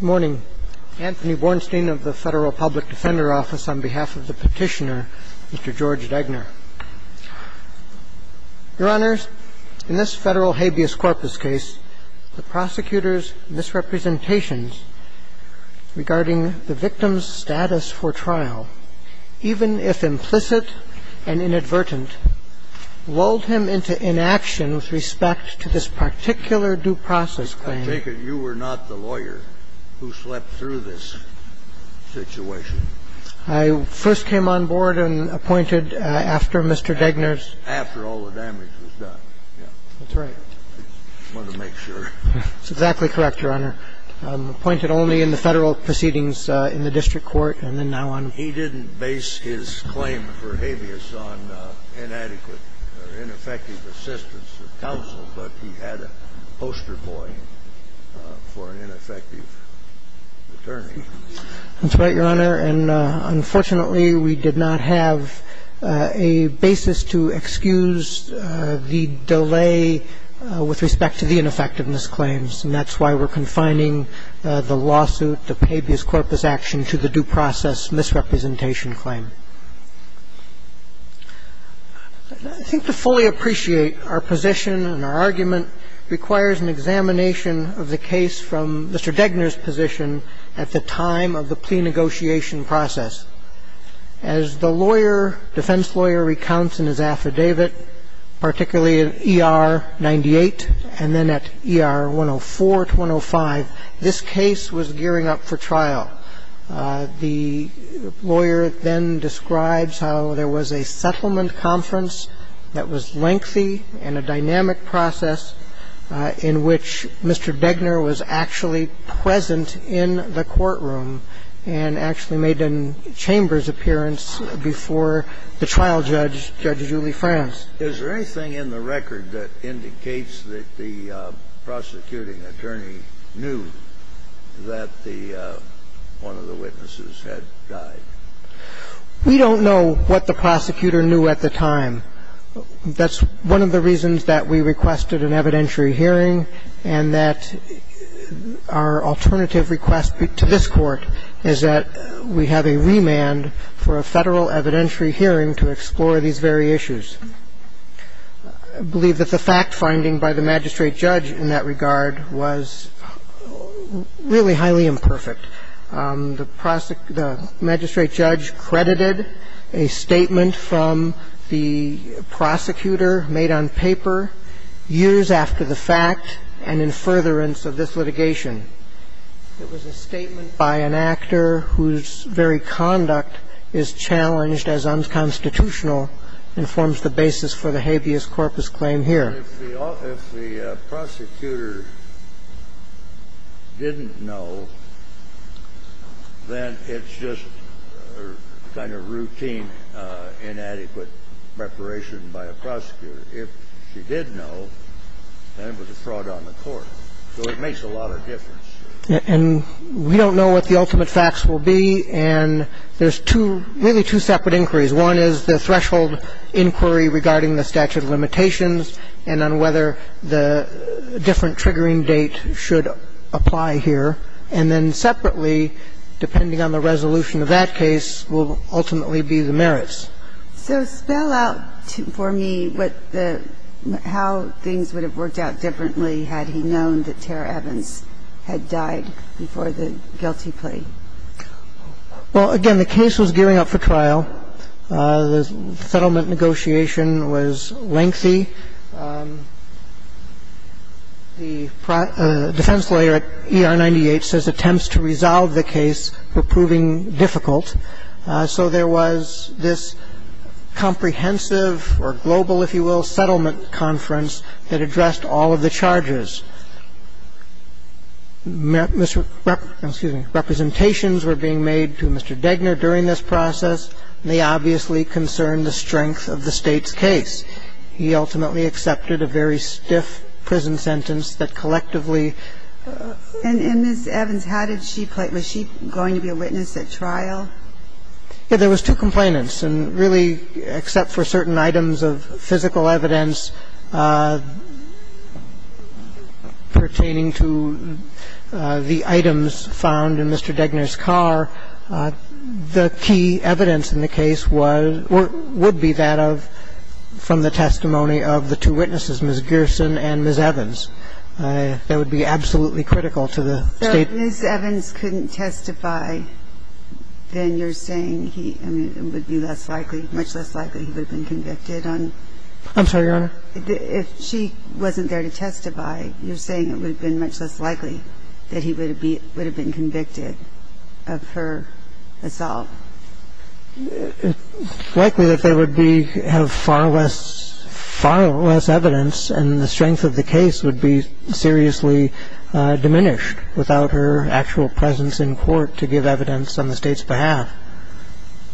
Good morning. Anthony Bornstein of the Federal Public Defender Office on behalf of the petitioner, Mr. George Diegner. Your Honors, in this federal habeas corpus case, the prosecutor's misrepresentations regarding the victim's status for trial, even if implicit and inadvertent, lulled him into inaction with respect to this particular due process claim. I take it you were not the lawyer who slept through this situation. I first came on board and appointed after Mr. Diegner's. After all the damage was done, yeah. That's right. I wanted to make sure. That's exactly correct, Your Honor. Appointed only in the federal proceedings in the district court and then now on. And he didn't base his claim for habeas on inadequate or ineffective assistance of counsel, but he had a poster boy for an ineffective attorney. That's right, Your Honor. And unfortunately, we did not have a basis to excuse the delay with respect to the ineffectiveness claims. And that's why we're confining the lawsuit, the habeas corpus action, to the due process misrepresentation claim. I think to fully appreciate our position and our argument requires an examination of the case from Mr. Diegner's position at the time of the plea negotiation process. As the lawyer, defense lawyer, recounts in his affidavit, particularly in ER 98 and then at ER 104 to 105, this case was gearing up for trial. The lawyer then describes how there was a settlement conference that was lengthy and a dynamic process in which Mr. Diegner was actually present in the courtroom and actually made a chamber's appearance before the trial judge, Judge Julie Franz. Is there anything in the record that indicates that the prosecuting attorney knew that the one of the witnesses had died? We don't know what the prosecutor knew at the time. That's one of the reasons that we requested an evidentiary hearing and that our alternative request to this Court is that we have a remand for a Federal evidentiary hearing to explore these very issues. I believe that the fact-finding by the magistrate judge in that regard was really highly imperfect. The magistrate judge credited a statement from the prosecutor made on paper years after the fact and in furtherance of this litigation. It was a statement by an actor whose very conduct is challenged as unconstitutional and forms the basis for the habeas corpus claim here. If the prosecutor didn't know, then it's just kind of routine, inadequate preparation by a prosecutor. If she did know, then it was a fraud on the court. So it makes a lot of difference. And we don't know what the ultimate facts will be. And there's two, really two separate inquiries. One is the threshold inquiry regarding the statute of limitations and on whether the different triggering date should apply here. And then separately, depending on the resolution of that case, will ultimately be the merits. So spell out for me what the – how things would have worked out differently had he known that Tara Evans had died before the guilty plea. Well, again, the case was gearing up for trial. The settlement negotiation was lengthy. The defense lawyer at ER98 says attempts to resolve the case were proving difficult. So there was this comprehensive or global, if you will, settlement conference that addressed all of the charges. Mr. – excuse me – representations were being made to Mr. Degner during this process. They obviously concerned the strength of the State's case. He ultimately accepted a very stiff prison sentence that collectively – Yeah. There was two complainants. And really, except for certain items of physical evidence pertaining to the items found in Mr. Degner's car, the key evidence in the case was – would be that of – from the testimony of the two witnesses, Ms. Gerson and Ms. Evans. That would be absolutely critical to the State. So if Ms. Evans couldn't testify, then you're saying he – I mean, it would be less likely – much less likely he would have been convicted on – I'm sorry, Your Honor? If she wasn't there to testify, you're saying it would have been much less likely that he would have been convicted of her assault? It's likely that they would be – have far less – far less evidence and the strength of the case would be seriously diminished without her actual presence in court to give evidence on the State's behalf.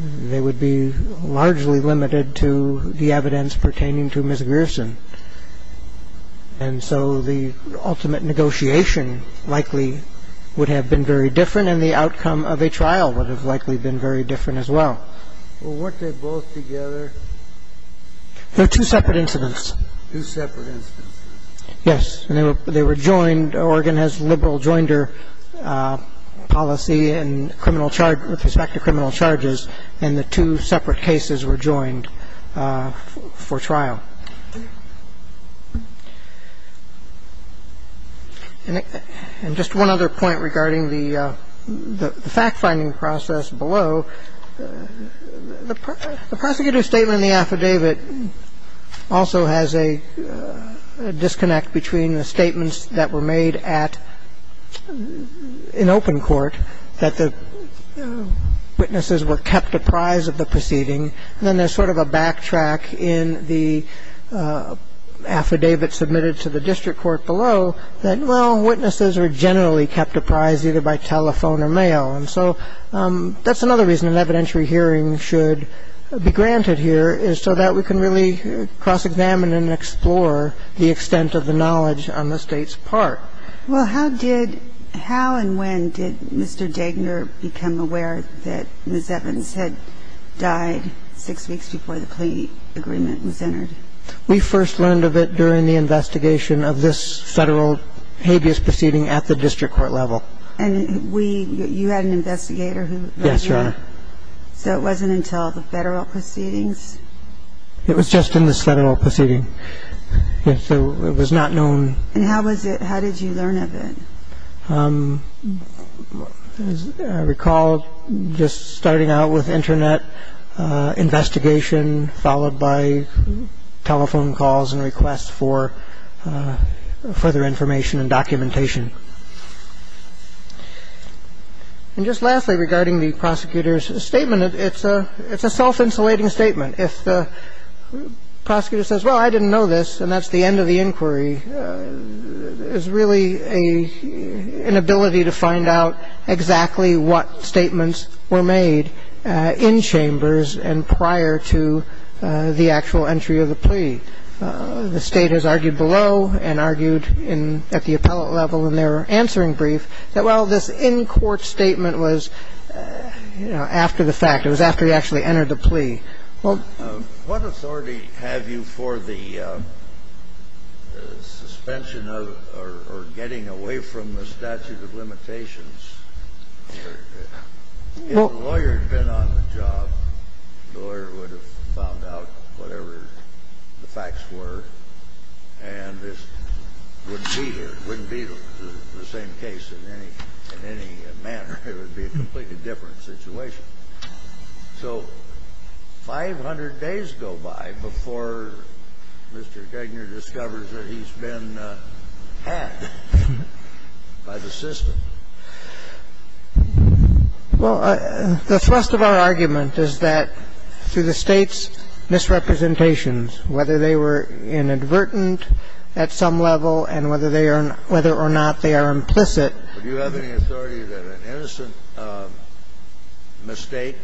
They would be largely limited to the evidence pertaining to Ms. Gerson. And so the ultimate negotiation likely would have been very different and the outcome of a trial would have likely been very different as well. Well, weren't they both together? They're two separate incidents. Two separate incidents. Yes. And they were joined – Oregon has liberal joinder policy in criminal – with respect to criminal charges, and the two separate cases were joined for trial. And just one other point regarding the fact-finding process below. The prosecutor's statement in the affidavit also has a disconnect between the statements that were made at – in open court that the witnesses were kept apprised of the proceeding, and then there's sort of a backtrack in the affidavit submitted to the district court below that, well, witnesses are generally kept apprised either by telephone or mail. And so that's another reason an evidentiary hearing should be granted here is so that we can really cross-examine and explore the extent of the knowledge on the State's part. Well, how did – how and when did Mr. Degner become aware that Ms. Evans had died six weeks before the plea agreement was entered? We first learned of it during the investigation of this Federal habeas proceeding at the district court level. And we – you had an investigator who – Yes, Your Honor. So it wasn't until the Federal proceedings? It was just in this Federal proceeding. So it was not known. And how was it – how did you learn of it? As I recall, just starting out with Internet investigation and then, you know, following up with the investigation, followed by telephone calls and requests for further information and documentation. And just lastly, regarding the prosecutor's statement, it's a – it's a self-insulating statement. If the prosecutor says, well, I didn't know this, and that's the end of the inquiry, there's really an ability to find out exactly what statements were made in chambers and prior to the actual entry of the plea. The State has argued below and argued in – at the appellate level in their answering brief that, well, this in-court statement was, you know, after the fact. It was after he actually entered the plea. What authority have you for the suspension of or getting away from the statute of limitations? If the lawyer had been on the job, the lawyer would have found out whatever the facts were, and this wouldn't be here. It wouldn't be the same case in any – in any manner. It would be a completely different situation. So 500 days go by before Mr. Gagner discovers that he's been hacked by the system. Well, the thrust of our argument is that through the State's misrepresentations, whether they were inadvertent at some level and whether they are – whether or not they are implicit. Do you have any authority that an innocent mistake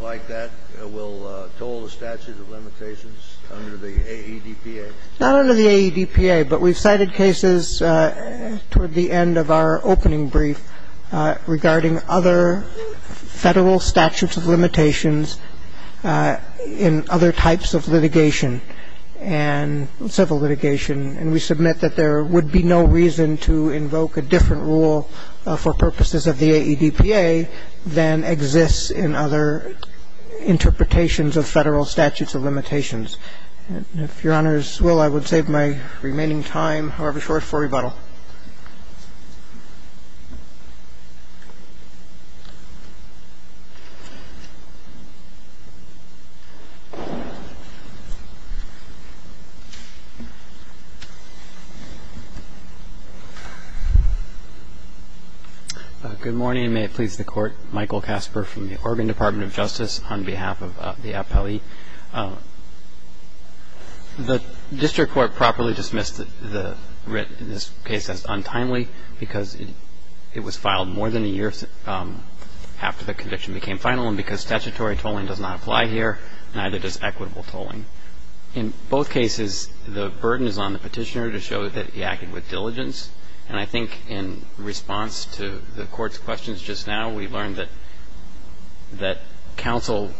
like that will toll the statute of limitations under the AEDPA? Not under the AEDPA, but we've cited cases toward the end of our opening brief regarding other Federal statutes of limitations in other types of litigation and civil litigation. And we submit that there would be no reason to invoke a different rule for purposes of the AEDPA than exists in other interpretations of Federal statutes of limitations. If Your Honors will, I would save my remaining time, however short, for rebuttal. Good morning. May it please the Court. Michael Casper from the Oregon Department of Justice on behalf of the APLE. The District Court properly dismissed the writ in this case as untimely because it was filed more than a year after the conviction became final and because statutory tolling does not apply here and neither does equitable tolling. In both cases, the burden is on the petitioner to show that he acted with diligence. And I think in response to the Court's questions just now, we learned that counsel,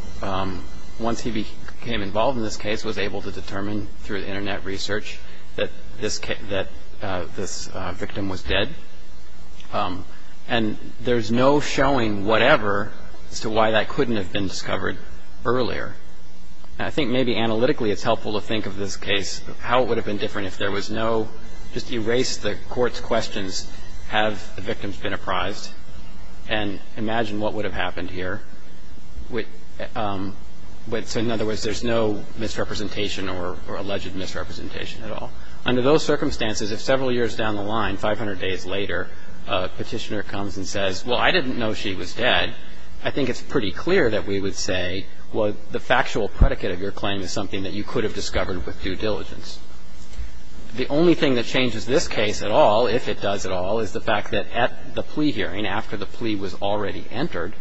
once he became involved in this case, was able to determine through Internet research that this victim was dead. And there's no showing whatever as to why that couldn't have been discovered earlier. And I think maybe analytically it's helpful to think of this case, how it would have been different if there was no just erase the Court's questions, have the victims been apprised, and imagine what would have happened here. So in other words, there's no misrepresentation or alleged misrepresentation at all. Under those circumstances, if several years down the line, 500 days later, a petitioner comes and says, well, I didn't know she was dead, I think it's pretty clear that we would say, well, the factual predicate of your claim is something that you could have discovered with due diligence. The only thing that changes this case at all, if it does at all, is the fact that at the plea hearing, after the plea was already entered,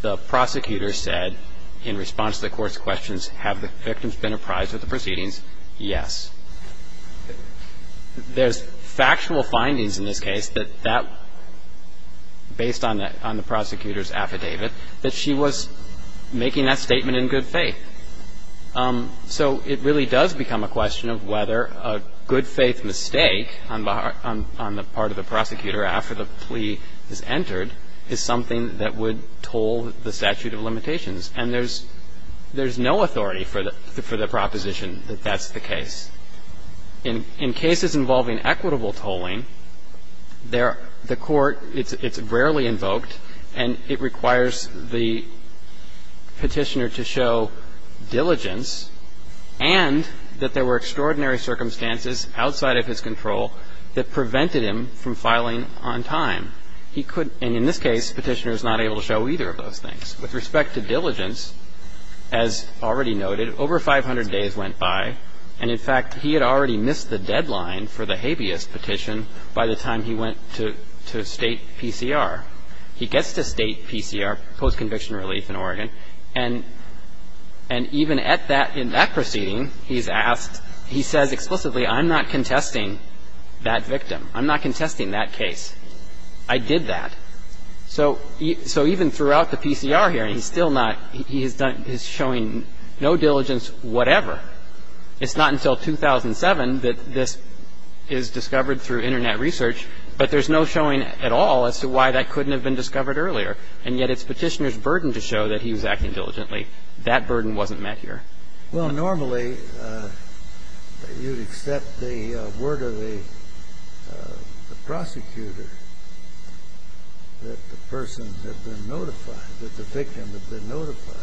the prosecutor said in response to the Court's questions, have the victims been apprised of the proceedings? Yes. There's factual findings in this case that that, based on the prosecutor's affidavit, that she was making that statement in good faith. So it really does become a question of whether a good faith mistake on the part of the prosecutor after the plea is entered is something that would toll the statute of limitations. And there's no authority for the proposition that that's the case. In cases involving equitable tolling, the Court, it's rarely invoked, and it requires the petitioner to show diligence and that there were extraordinary circumstances outside of his control that prevented him from filing on time. And in this case, the petitioner is not able to show either of those things. With respect to diligence, as already noted, over 500 days went by, and in fact he had already missed the deadline for the habeas petition by the time he went to state PCR. He gets to state PCR, post-conviction relief in Oregon, and even at that, in that proceeding, he's asked, he says explicitly, I'm not contesting that victim. I'm not contesting that case. I did that. So even throughout the PCR hearing, he's still not, he's showing no diligence whatever. It's not until 2007 that this is discovered through Internet research, but there's no showing at all as to why that couldn't have been discovered earlier. And yet it's petitioner's burden to show that he was acting diligently. That burden wasn't met here. Well, normally you'd accept the word of the prosecutor that the person had been notified, that the victim had been notified.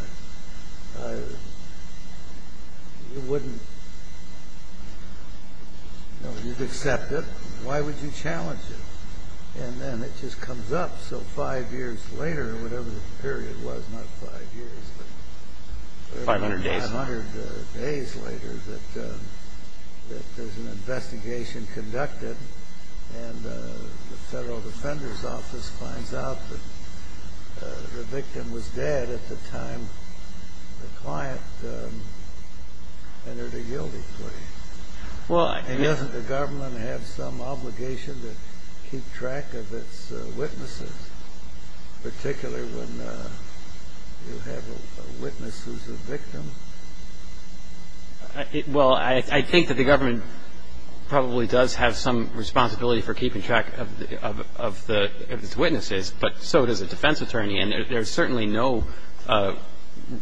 You wouldn't, you'd accept it. Why would you challenge it? And then it just comes up. So five years later, whatever the period was, not five years, but 500 days later, that there's an investigation conducted, and the Federal Defender's Office finds out that the victim was dead at the time the client entered a guilty plea. And doesn't the government have some obligation to keep track of its witnesses, particularly when you have a witness who's a victim? Well, I think that the government probably does have some responsibility for keeping track of its witnesses, but so does a defense attorney. And there's certainly no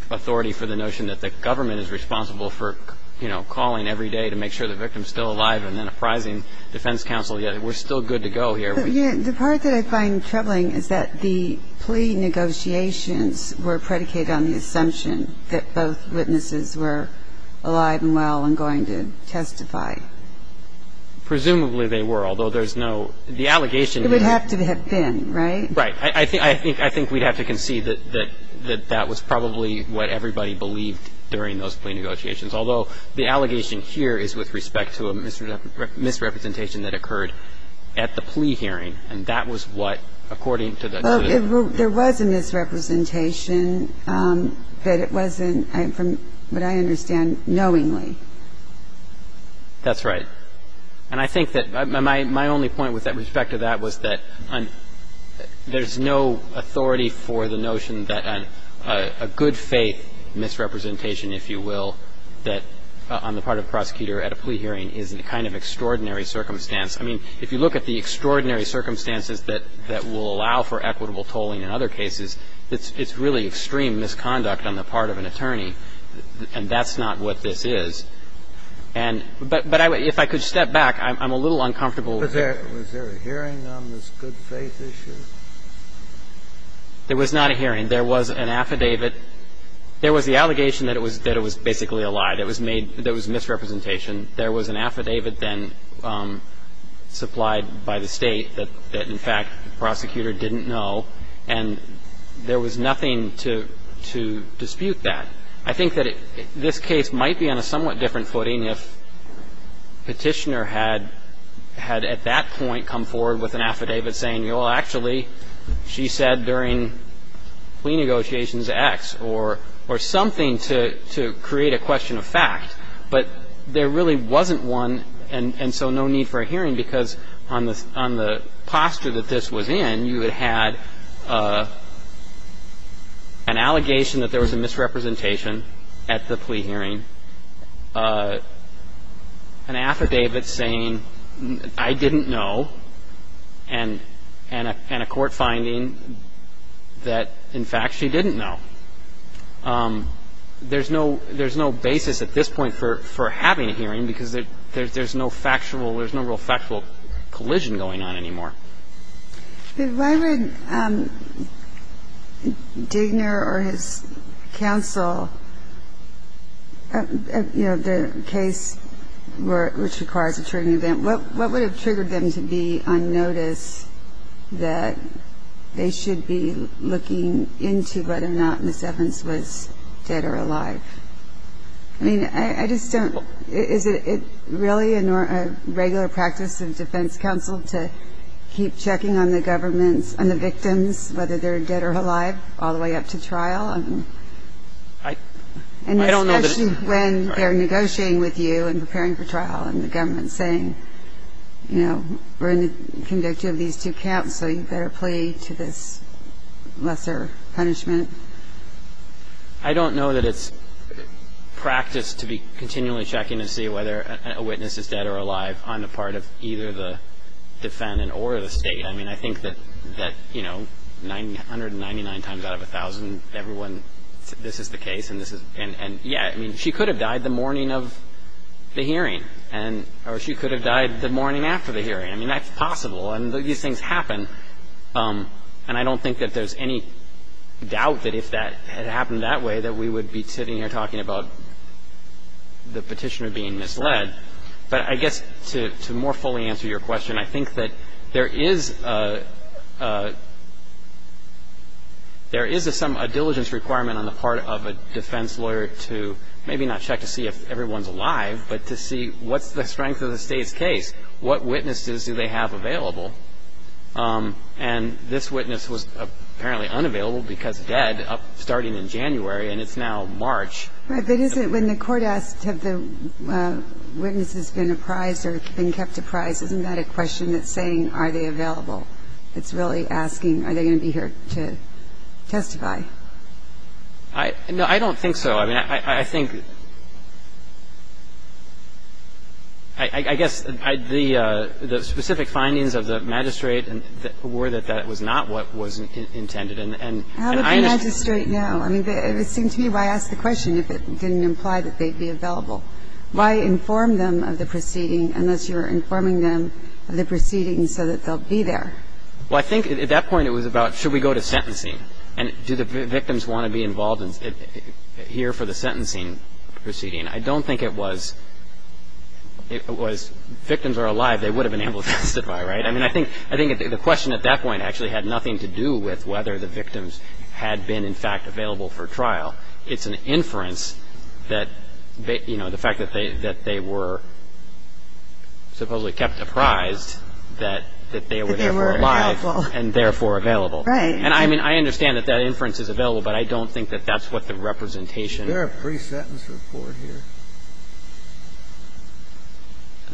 authority for the notion that the government is responsible for, you know, calling every day to make sure the victim's still alive and then apprising defense counsel, yet we're still good to go here. The part that I find troubling is that the plea negotiations were predicated on the assumption that both witnesses were alive and well and going to testify. Presumably they were, although there's no, the allegation is. It would have to have been, right? Right. I think we'd have to concede that that was probably what everybody believed during those plea negotiations, although the allegation here is with respect to a misrepresentation that occurred at the plea hearing, and that was what, according to the... That's right. And I think that my only point with respect to that was that there's no authority for the notion that a good-faith misrepresentation, if you will, that on the part of the prosecutor at a plea hearing is a kind of extraordinary circumstance. I mean, if you look at the extraordinary circumstances that will allow for equitable tolling in other cases, it's really extreme misconduct on the part of the prosecutor and on the part of an attorney. And that's not what this is. And but if I could step back, I'm a little uncomfortable. Was there a hearing on this good-faith issue? There was not a hearing. There was an affidavit. There was the allegation that it was basically a lie, that it was misrepresentation. There was an affidavit then supplied by the State that in fact the prosecutor didn't know, and there was nothing to dispute that. I think that this case might be on a somewhat different footing if Petitioner had at that point come forward with an affidavit saying, well, actually, she said during plea negotiations X, or something to create a question of fact. But there really wasn't one, and so no need for a hearing, because on the posture that this was in, you had had an allegation that there was a misrepresentation at the plea hearing, an affidavit saying I didn't know, and a court finding that in fact she didn't know. There's no basis at this point for having a hearing because there's no factual collision going on anymore. But why would Digner or his counsel, you know, the case which requires a triggering event, what would have triggered them to be on notice that they should be looking into whether or not Ms. Evans was dead or alive? I mean, I just don't. Is it really a regular practice of defense counsel to keep checking on the government and the victims, whether they're dead or alive, all the way up to trial? And especially when they're negotiating with you and preparing for trial and the government saying, you know, we're going to convict you of these two counts, so you better plea to this lesser punishment? I don't know that it's practice to be continually checking to see whether a witness is dead or alive on the part of either the defendant or the State. I mean, I think that, you know, 199 times out of 1,000, everyone, this is the case and this is the case. And, yeah, I mean, she could have died the morning of the hearing, or she could have died the morning after the hearing. I mean, that's possible. And these things happen. And I don't think that there's any doubt that if that had happened that way, that we would be sitting here talking about the petitioner being misled. But I guess to more fully answer your question, I think that there is a diligence requirement on the part of a defense lawyer to maybe not check to see if everyone's alive, but to see what's the strength of the State's case? What witnesses do they have available? And this witness was apparently unavailable because dead starting in January, and it's now March. Right. But isn't it when the court asks have the witnesses been apprised or been kept apprised, isn't that a question that's saying are they available? It's really asking are they going to be here to testify? No, I don't think so. I mean, I think the specific findings of the magistrate were that that was not what was intended, and I understand that. How would the magistrate know? I mean, it would seem to me, why ask the question if it didn't imply that they'd be available? Why inform them of the proceeding unless you're informing them of the proceedings so that they'll be there? Well, I think at that point it was about should we go to sentencing? And do the victims want to be involved here for the sentencing proceeding? I don't think it was victims are alive, they would have been able to testify, right? I mean, I think the question at that point actually had nothing to do with whether the victims had been, in fact, available for trial. It's an inference that, you know, the fact that they were supposedly kept apprised that they were therefore alive and therefore available. Right. And I mean, I understand that that inference is available, but I don't think that that's what the representation. Is there a pre-sentence report here?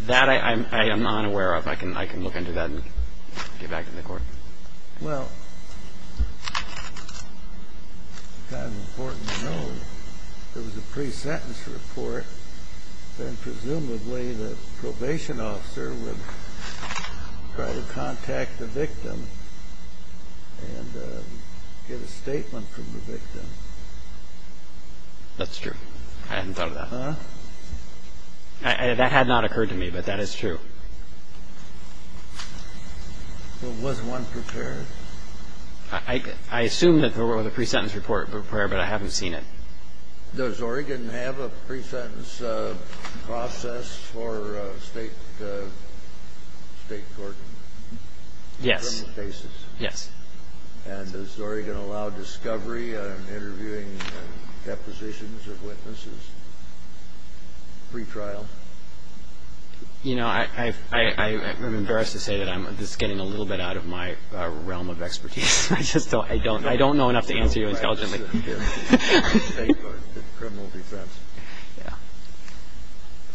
That I am not aware of. I can look into that and get back to the Court. Well, it's kind of important to know if there was a pre-sentence report, then presumably the probation officer would try to contact the victim and get a statement from the victim. That's true. I hadn't thought of that. Huh? That had not occurred to me, but that is true. Well, was one prepared? I assume that there was a pre-sentence report prepared, but I haven't seen it. Does Oregon have a pre-sentence process for state court criminal cases? Yes. Yes. And does Oregon allow discovery, interviewing, and depositions of witnesses pre-trial? You know, I'm embarrassed to say that this is getting a little bit out of my realm of expertise. I don't know enough to answer you intelligently. State court criminal defense. Yeah.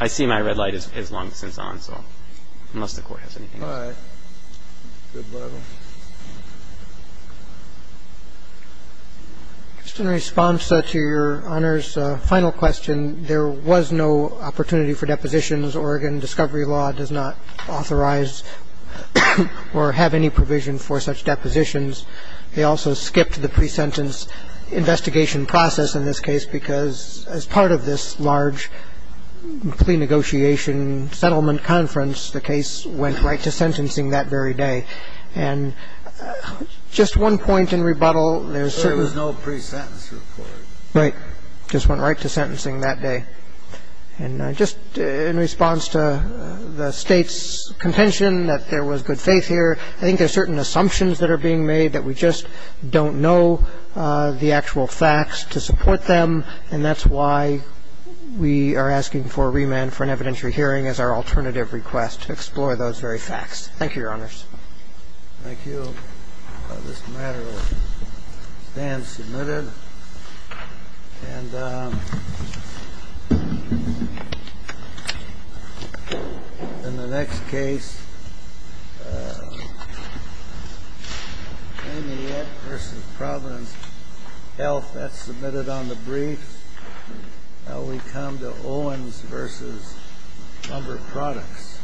I see my red light is long since on, so unless the Court has anything else. All right. Good level. Just in response to Your Honor's final question, there was no opportunity for depositions. Oregon discovery law does not authorize or have any provision for such depositions. They also skipped the pre-sentence investigation process in this case because as part of this large plea negotiation settlement conference, the case went right to sentencing that very day. And just one point in rebuttal. There was no pre-sentence report. Right. Just went right to sentencing that day. And just in response to the State's contention that there was good faith here, I think there are certain assumptions that are being made that we just don't know the actual facts to support them. And that's why we are asking for remand for an evidentiary hearing as our alternative request to explore those very facts. Thank you, Your Honors. Thank you. This matter will stand submitted. And in the next case, Amiette v. Providence Health. That's submitted on the brief. We come to Owens v. Lumber Products.